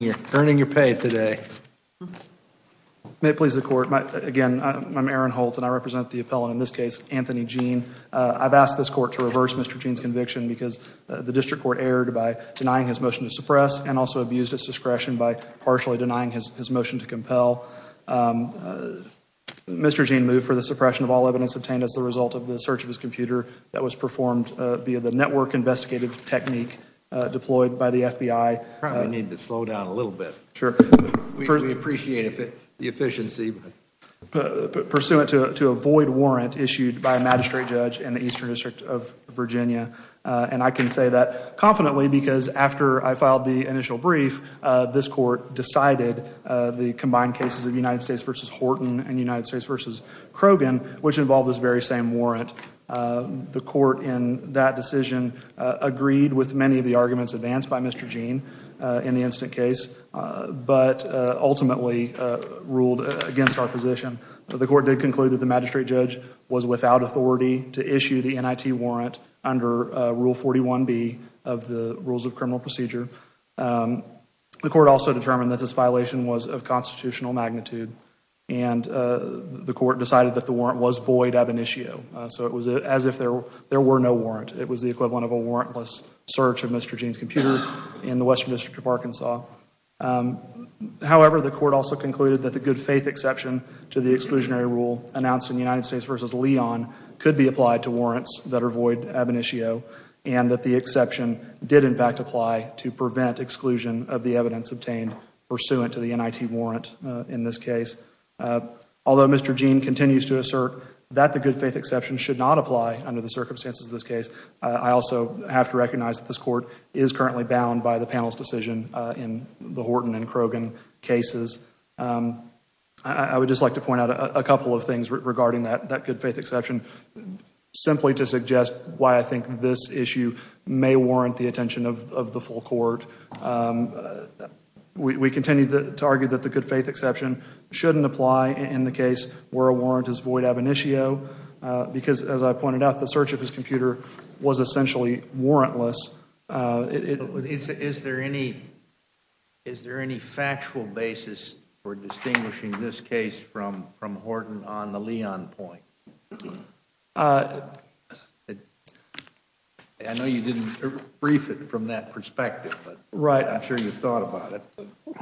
You're earning your pay today. May it please the court, again I'm Aaron Holt and I represent the appellant in this case Anthony Jean. I've asked this court to reverse Mr. Jean's conviction because the district court erred by denying his motion to suppress and also abused his discretion by partially denying his motion to compel. Mr. Jean moved for the suppression of all evidence obtained as the result of the search of his computer that was performed via the network investigative technique deployed by the FBI. Probably need to slow down a little bit. Sure. We appreciate the efficiency. Pursuant to a void warrant issued by a magistrate judge in the Eastern District of Virginia and I can say that confidently because after I filed the initial brief this court decided the combined cases of United States v. Horton and United States v. Krogan, which involved this very same warrant, the court in that decision agreed with many of the arguments advanced by Mr. Jean in the instant case but ultimately ruled against our position. The court did conclude that the magistrate judge was without authority to issue the NIT warrant under Rule 41B of the Rules of Criminal Procedure. The court also determined that this violation was of constitutional magnitude and the court decided that the warrant was void ab initio so it was as if there were no warrant. It was the equivalent of a warrantless search of Mr. Jean's computer in the Western District of Arkansas. However, the court also concluded that the good faith exception to the exclusionary rule announced in United States v. Leon could be applied to warrants that are void ab initio and that the exception did in fact apply to prevent exclusion of the evidence obtained pursuant to the NIT warrant in this case. Although Mr. Jean continues to assert that the good faith exception should not apply under the circumstances of this case, I also have to recognize that this court is currently bound by the panel's decision in the Horton and Krogan cases. I would just like to point out a couple of things regarding that good faith exception simply to suggest why I think this issue may warrant the attention of the full court. We continue to argue that the good faith exception shouldn't apply in the case where a warrant is void ab initio because as I pointed out, the search of his computer was essentially warrantless. Is there any factual basis for distinguishing this case from Horton on the Leon point? I know you didn't brief it from that perspective, but I'm sure you thought about it.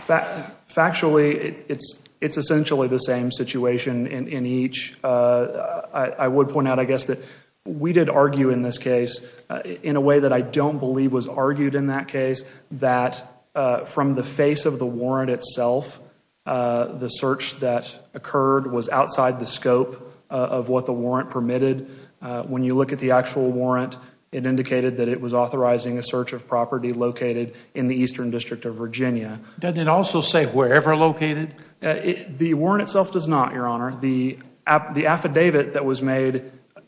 Factually, it's essentially the same situation in each. I would point out I guess that we did argue in this case in a way that I don't believe was argued in that case that from the face of the warrant itself, the search that occurred was outside the scope of what the warrant permitted. When you look at the actual warrant, it indicated that it was authorizing a search of property located in the Eastern District of Virginia. Doesn't it also say wherever located? The warrant itself does not, Your Honor. The affidavit that was made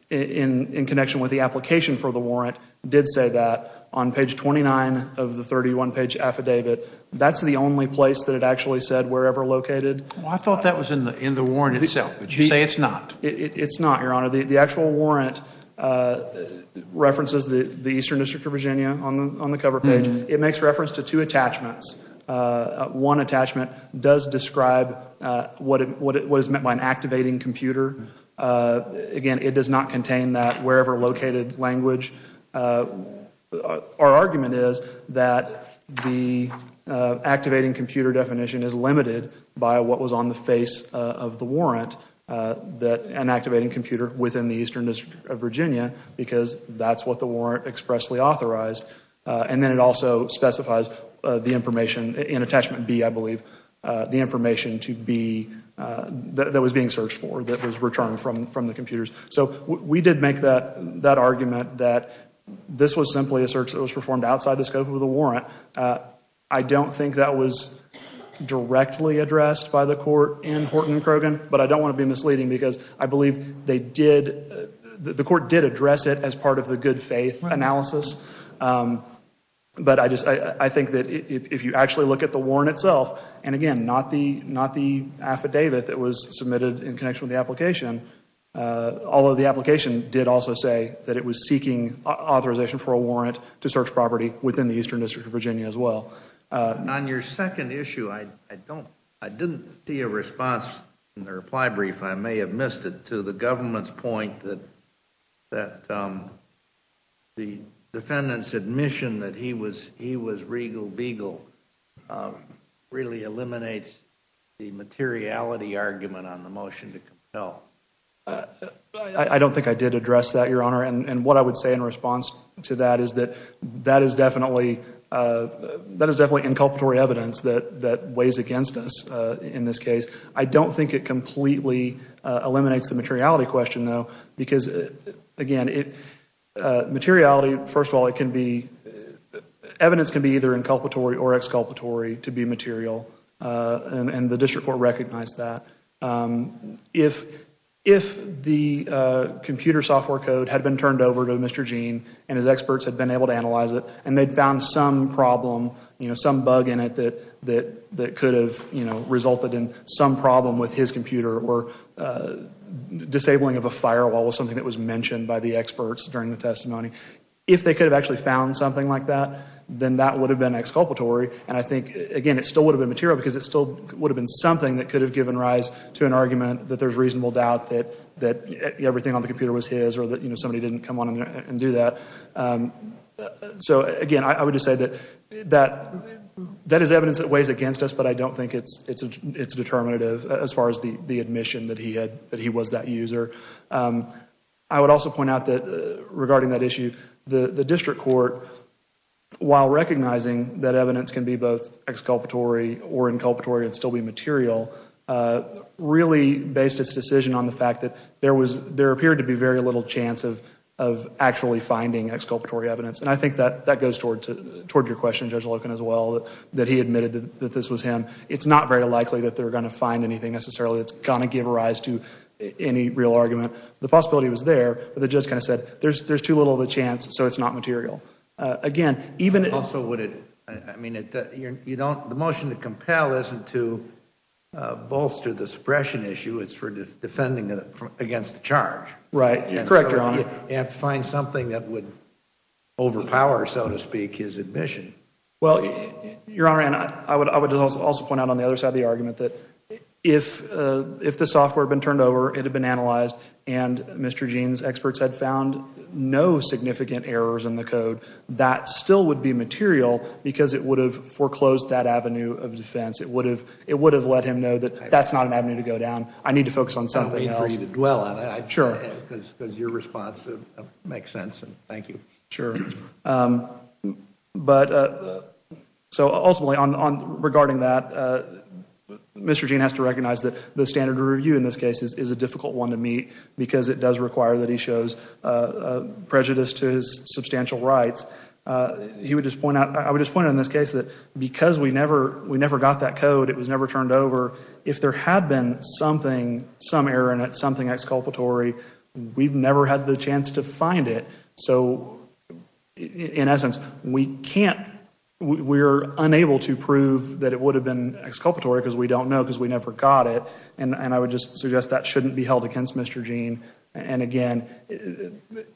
in connection with the application for the warrant did say that on page 29 of the 31 page affidavit. That's the only place that it actually said wherever located. I thought that was in the warrant itself, but you say it's not. It's not, Your Honor. The actual warrant references the Eastern District of Virginia on the cover page. It makes reference to two attachments. One attachment does describe what is meant by an activating computer. Again, it does not contain wherever located language. Our argument is that the activating computer definition is limited by what was on the face of the warrant, an activating computer within the Eastern District of Virginia, because that's what the warrant expressly authorized. Then it also specifies the information in attachment B, I believe, the information that was being searched for, that was returned from the computers. We did make that argument that this was simply a search that was performed outside the scope of the warrant. I don't think that was directly addressed by the court in Horton and Krogan, but I don't want to be misleading because I believe the court did address it as part of the good faith analysis. I think that if you actually look at the warrant itself, and again, not the affidavit that was submitted in connection with the application, although the application did also say that it was seeking authorization for a warrant to search property within the Eastern District of Virginia as well. On your second issue, I didn't see a response in the reply brief. I may have missed it to the government's point that the defendant's admission that he was regal beagle really eliminates the materiality argument on the motion to compel. I don't think I did address that, Your Honor. What I would say in response to that is that that is definitely inculpatory evidence that weighs against us in this case. I don't think it completely eliminates the materiality question, though, because again, materiality, first of all, evidence can be either inculpatory or exculpatory to be material, and the district court recognized that. If the computer software code had been turned over to Mr. Gene and his experts had been able to analyze it and they found some problem, some bug in it that could have resulted in some problem with his computer or disabling of a firewall was something that was mentioned by the experts during the testimony. If they could have actually found something like that, then that would have been exculpatory. I think, again, it still would have been material because it still would have been something that could have given rise to an argument that there's reasonable doubt that everything on the computer was his or that somebody didn't come on and do that. Again, I would just say that that is evidence that weighs against us, but I don't think it's determinative as far as the admission that he was that user. I would also point out that regarding that issue, the district court, while recognizing that evidence can be both exculpatory or inculpatory and still be material, really based its decision on the fact that there appeared to be very little chance of actually finding exculpatory evidence. I think that goes toward your question, Judge Loken, as well, that he admitted that this was him. It's not very likely that they're going to find anything necessarily that's going to give rise to any real argument. The possibility was there, but the judge kind of said there's too little of a chance, so it's not material. The motion to compel isn't to bolster the suppression issue. It's for defending against the charge. You have to find something that would overpower, so to speak, his admission. Well, Your Honor, I would also point out on the other side of the argument that if the software had been turned over, it had been analyzed, and Mr. Gene's experts had found no significant errors in the code, that still would be material because it would have foreclosed that avenue of defense. It would have let him know that that's not an avenue to go down. I need to focus on something else. I don't mean for you to dwell on it. Sure. Because your response makes sense, and thank you. Sure. Ultimately, regarding that, Mr. Gene has to recognize that the standard of review in this case is a difficult one to meet because it does require that he shows prejudice to his substantial rights. I would just point out in this case that because we never got that code, it was never turned over, if there had been some error in it, something exculpatory, we've never had the chance to find it. In essence, we're unable to prove that it would have been exculpatory because we don't know because we never got it, and I would just suggest that shouldn't be held against Mr. Gene. Again,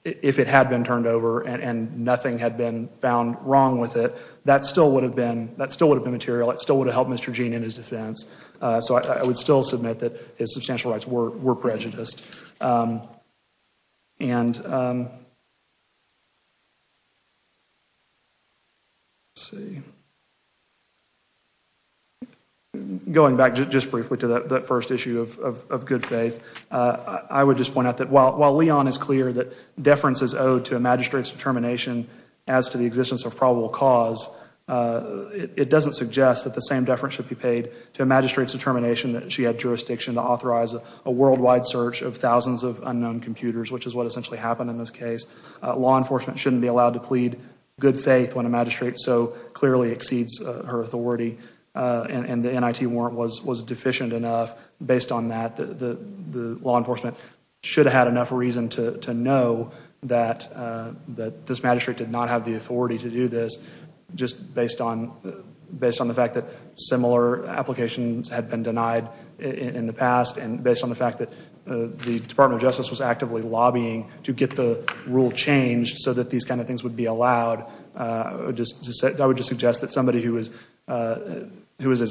if it had been turned over and nothing had been found wrong with it, that still would have been material. It still would have helped Mr. Gene in his defense. I would still his substantial rights were prejudiced. Going back just briefly to that first issue of good faith, I would just point out that while Leon is clear that deference is owed to a magistrate's determination as to the existence of probable cause, it doesn't suggest that the same deference should be paid to a magistrate's determination that she had jurisdiction to authorize a worldwide search of thousands of unknown computers, which is what essentially happened in this case. Law enforcement shouldn't be allowed to plead good faith when a magistrate so clearly exceeds her authority and the NIT warrant was deficient enough. Based on that, the law enforcement should have had enough reason to know that this magistrate did not have the authority to do this, just based on the fact that similar applications had been denied in the past and based on the fact that the Department of Justice was actively lobbying to get the rule changed so that these kind of things would be allowed. I would just suggest that somebody who was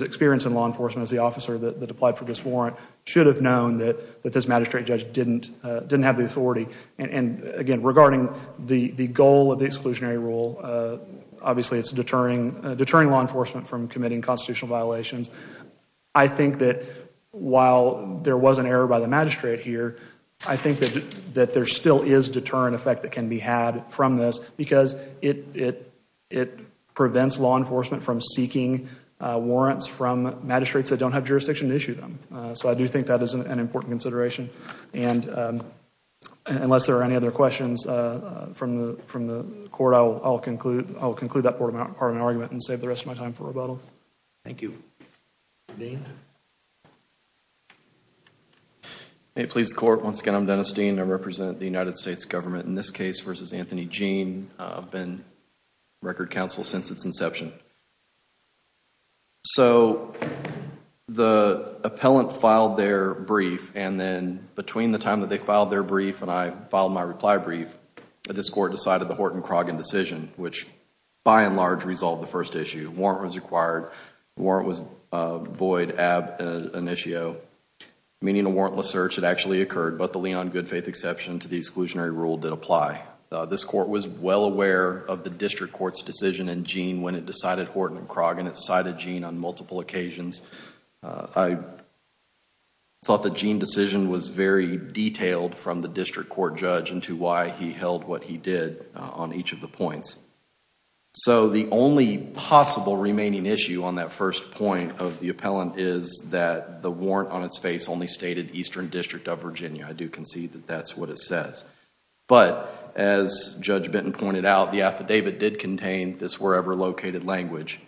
experienced in law enforcement as the officer that applied for this warrant should have known that this magistrate judge didn't have the authority. Again, regarding the goal of the exclusionary rule, obviously it's deterring law enforcement from committing constitutional violations. I think that while there was an error by the magistrate here, I think that there still is deterrent effect that can be had from this because it prevents law enforcement from seeking warrants from magistrates that don't have jurisdiction to issue them. So I do think that is an important consideration. Unless there are any other questions from the court, I will conclude that part of my argument and save the rest of my time for rebuttal. Thank you. May it please the court, once again, I'm Dennis Dean. I represent the United States government in this case versus Anthony Jean. I've been record counsel since its inception. So the appellant filed their brief and then between the time that they filed their brief and I filed my reply brief, this court decided the Horton-Croggan decision, which by and large resolved the first issue. Warrant was required. Warrant was void ab initio, meaning a warrantless search had actually occurred, but the Leon Goodfaith exception to the exclusionary rule did Horton-Croggan. It cited Jean on multiple occasions. I thought the Jean decision was very detailed from the district court judge into why he held what he did on each of the points. So the only possible remaining issue on that first point of the appellant is that the warrant on its face only stated Eastern District of Virginia. I do concede that that's what it says. But as Judge Benton pointed out, the affidavit did contain this wherever located language.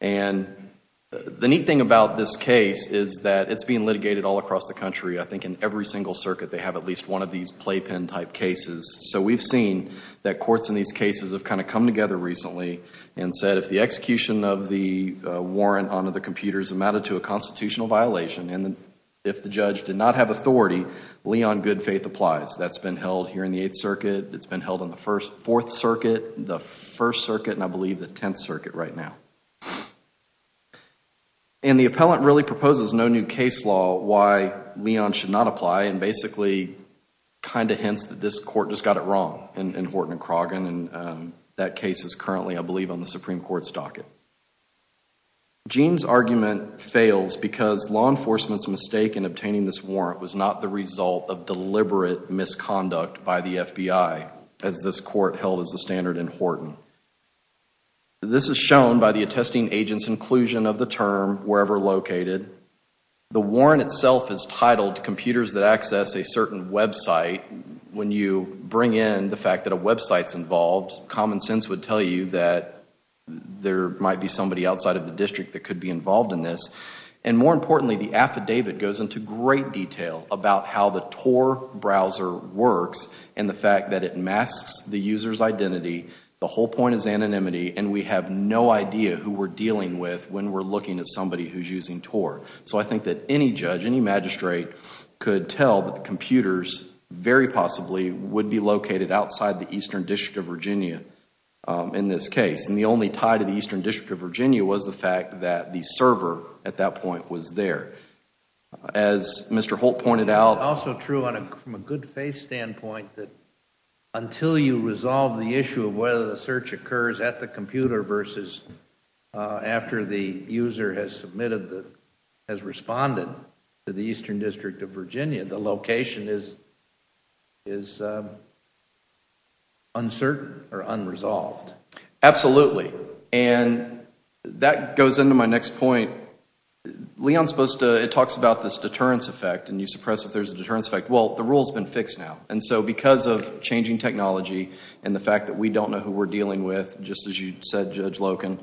And the neat thing about this case is that it's being litigated all across the country. I think in every single circuit they have at least one of these playpen type cases. So we've seen that courts in these cases have kind of come together recently and said if the execution of the warrant onto the computer is amounted to a constitutional violation and if the judge did not have authority, Leon Goodfaith applies. That's been held here in the Eighth Circuit. It's been held on the Fourth Circuit, the First Circuit, and I believe the Tenth Circuit right now. And the appellant really proposes no new case law why Leon should not apply and basically kind of hints that this court just got it wrong in Horton-Croggan and that case is currently, I believe, on the Supreme Court's docket. Jean's argument fails because law enforcement's mistake in obtaining this warrant was not the result of deliberate misconduct by the FBI as this court held as the standard in Horton. This is shown by the attesting agent's inclusion of the term wherever located. The warrant itself is titled computers that access a certain website. When you bring in the fact that a website's involved, common sense would tell you that there might be somebody outside of the district that could be involved in this. And more importantly, the affidavit goes into great detail about how the TOR browser works and the fact that it masks the user's identity. The whole point is anonymity and we have no idea who we're dealing with when we're looking at somebody who's using TOR. So I think that any judge, any magistrate could tell that the computers very possibly would be located outside the Eastern District of Virginia in this case. And the only tie to the Eastern District of Virginia was the server at that point was there. As Mr. Holt pointed out. It's also true from a good faith standpoint that until you resolve the issue of whether the search occurs at the computer versus after the user has responded to the Eastern District of Virginia, the location is uncertain or unresolved. Absolutely. And that goes into my next point. It talks about this deterrence effect and you suppress if there's a deterrence effect. Well, the rule's been fixed now. And so because of changing technology and the fact that we don't know who we're dealing with, just as you said, Judge Loken,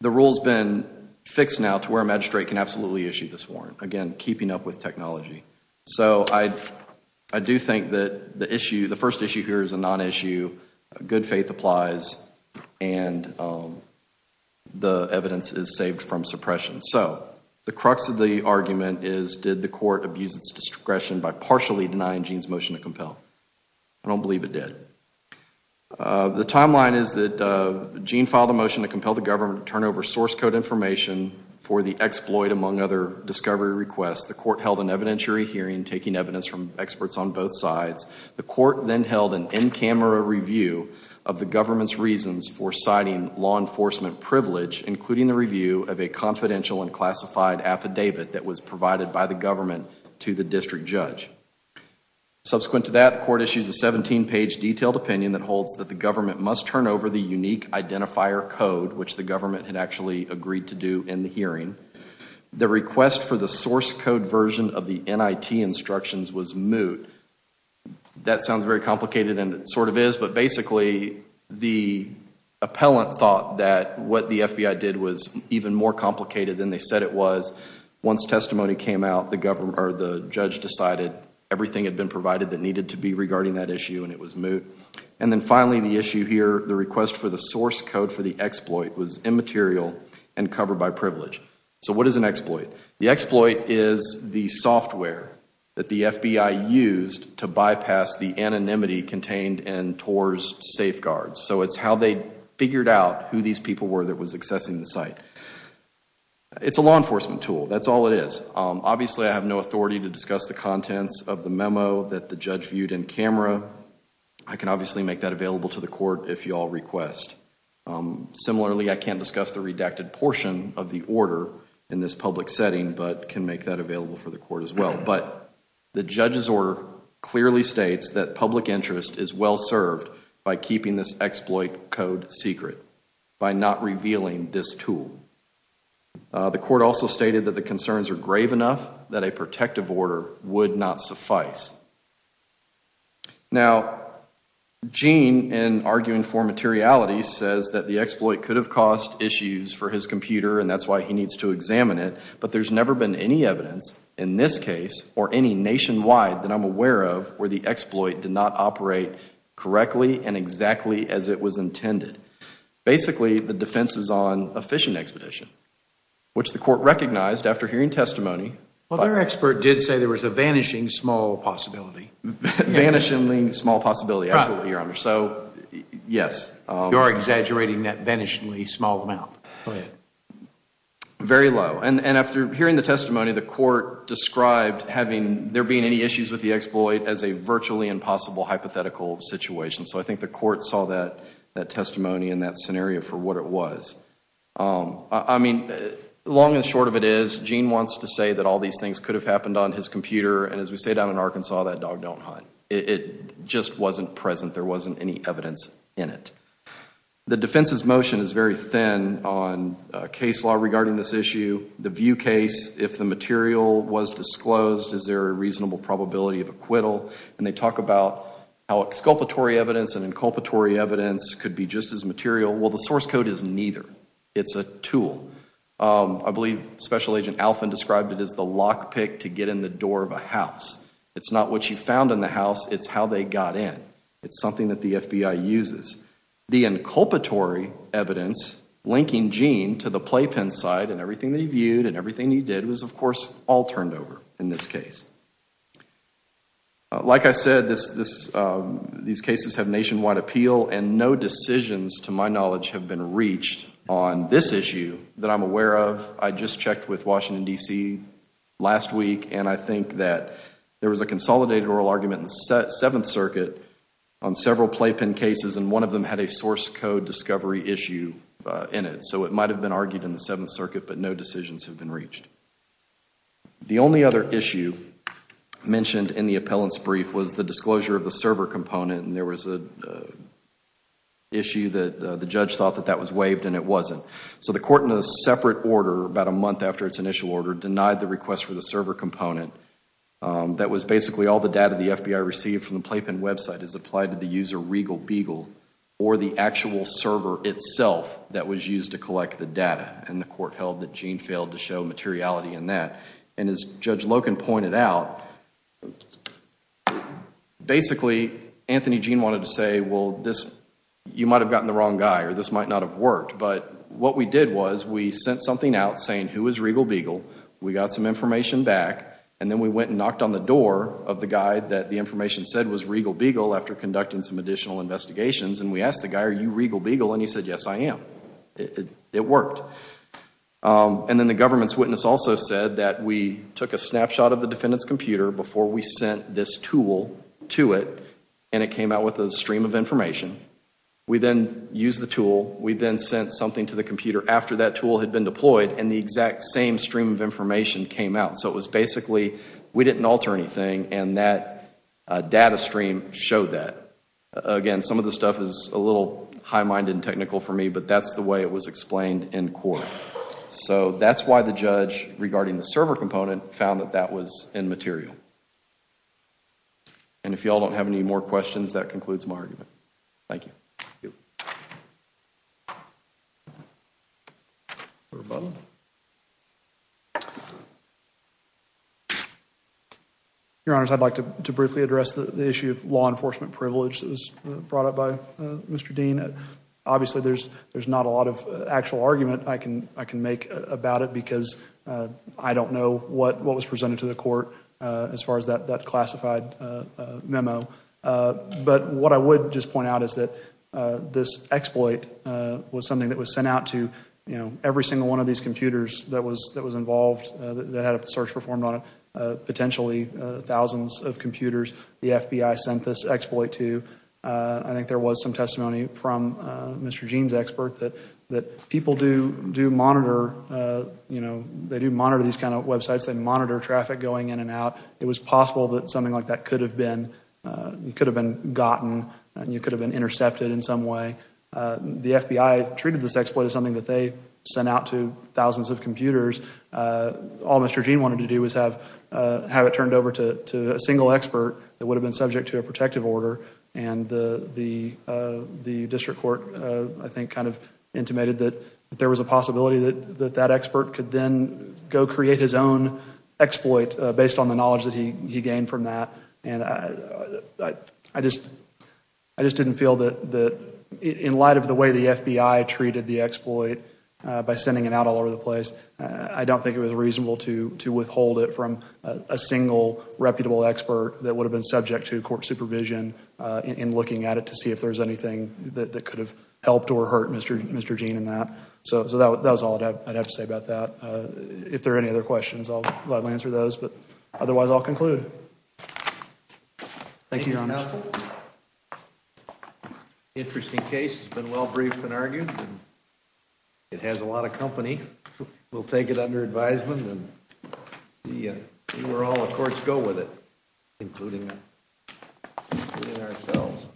the rule's been fixed now to where a magistrate can absolutely issue this warrant. Again, keeping up with technology. So I do think the first issue here is a non-issue. Good faith applies and the evidence is saved from suppression. So the crux of the argument is did the court abuse its discretion by partially denying Gene's motion to compel? I don't believe it did. The timeline is that Gene filed a motion to compel the government to turn over source code information for the exploit, among other discovery requests. The court held an evidentiary hearing, taking evidence from experts on both sides. The court then held an in-camera review of the government's reasons for citing law enforcement privilege, including the review of a confidential and classified affidavit that was provided by the government to the district judge. Subsequent to that, the court issues a 17-page detailed opinion that holds that the government must turn over the unique identifier code, which the government had agreed to do in the hearing. The request for the source code version of the NIT instructions was moot. That sounds very complicated and it sort of is, but basically the appellant thought that what the FBI did was even more complicated than they said it was. Once testimony came out, the judge decided everything had been provided that needed to be regarding that issue and it was moot. And then finally, the issue here, the request for the source code for the exploit was immaterial and covered by privilege. So what is an exploit? The exploit is the software that the FBI used to bypass the anonymity contained in TOR's safeguards. So it's how they figured out who these people were that was accessing the site. It's a law enforcement tool. That's all it is. Obviously, I have no authority to discuss the contents of the memo that the judge viewed in camera. I can obviously make that available to the court if you all request. Similarly, I can't discuss the redacted portion of the order in this public setting but can make that available for the court as well. But the judge's order clearly states that public interest is well served by keeping this exploit code secret, by not revealing this tool. The court also stated that the concerns are grave enough that a protective order would not suffice. Now, Gene, in arguing for materiality, says that the exploit could have caused issues for his computer and that's why he needs to examine it. But there's never been any evidence in this case or any nationwide that I'm aware of where the exploit did not operate correctly and exactly as it was intended. Basically, the defense is on a phishing expedition, which the court recognized after hearing testimony. Well, their expert did say there was a vanishing small possibility. Vanishingly small possibility, absolutely, Your Honor. So, yes. You're exaggerating that vanishingly small amount. Very low. And after hearing the testimony, the court described there being any issues with the exploit as a virtually impossible hypothetical situation. So I think the court saw that testimony and that scenario for what it was. I mean, long and short of it is, Gene wants to say that all these things could have happened on his computer. And as we say down in Arkansas, that dog don't hunt. It just wasn't present. There wasn't any evidence in it. The defense's motion is very thin on case law regarding this issue. The view case, if the material was disclosed, is there a reasonable probability of acquittal? And they talk about how exculpatory evidence and inculpatory evidence could be just as material. Well, the source code is neither. It's a tool. I believe Special Agent Alfin described it as the lock pick to get in the door of a house. It's not what you found in the house. It's how they got in. It's something that the FBI uses. The inculpatory evidence linking Gene to the playpen side and everything that he viewed and everything he did was, of course, all turned over in this case. Like I said, these cases have nationwide appeal and no decisions, to my knowledge, have been reached on this issue that I'm aware of. I just checked with Washington, D.C. last week, and I think that there was a consolidated oral argument in the Seventh Circuit on several playpen cases, and one of them had a source code discovery issue in it. So it might have been argued in the Seventh Circuit, but no decisions have been reached. The only other issue mentioned in the appellant's brief was the disclosure of the server component, and there was an issue that the judge thought that that was waived and it wasn't. So the court in a separate order about a month after its initial order denied the request for the server component. That was basically all the data the FBI received from the playpen website is applied to the user Regal Beagle or the actual server itself that was used to collect the data, and the court held that Gene failed to show materiality in that. And as Judge Loken pointed out, basically Anthony Gene wanted to say, well, you might have gotten the wrong guy or this might not have worked, but what we did was we sent something out saying who is Regal Beagle, we got some information back, and then we went and knocked on the door of the guy that the information said was Regal Beagle after conducting some additional investigations, and we asked the court. And then the government's witness also said that we took a snapshot of the defendant's computer before we sent this tool to it, and it came out with a stream of information. We then used the tool, we then sent something to the computer after that tool had been deployed, and the exact same stream of information came out. So it was basically we didn't alter anything, and that data stream showed that. Again, some of the stuff is a little high-minded and technical for me, but that's the way it was explained in court. So that's why the judge regarding the server component found that that was immaterial. And if you all don't have any more questions, that concludes my argument. Thank you. Your Honors, I'd like to briefly address the issue of law enforcement privileges brought up by Mr. Dean. Obviously, there's not a lot of actual argument I can make about it because I don't know what was presented to the court as far as that classified memo. But what I would just point out is that this exploit was something that was sent out to every single one of these computers that was involved, that had a search performed on it, the FBI sent this exploit to. I think there was some testimony from Mr. Dean's expert that people do monitor, you know, they do monitor these kind of websites. They monitor traffic going in and out. It was possible that something like that could have been gotten, you could have been intercepted in some way. The FBI treated this exploit as something that they sent out to that would have been subject to a protective order. And the district court, I think, kind of intimated that there was a possibility that that expert could then go create his own exploit based on the knowledge that he gained from that. And I just didn't feel that in light of the way the FBI treated the exploit by sending it out all over the place, I don't think it was subject to court supervision in looking at it to see if there's anything that could have helped or hurt Mr. Dean in that. So that was all I'd have to say about that. If there are any other questions, I'll gladly answer those. But otherwise, I'll conclude. Thank you, Your Honor. Interesting case. It's been well-briefed and argued. It has a lot of company. We'll take it under advisement and we'll see where all the courts go with it, including ourselves.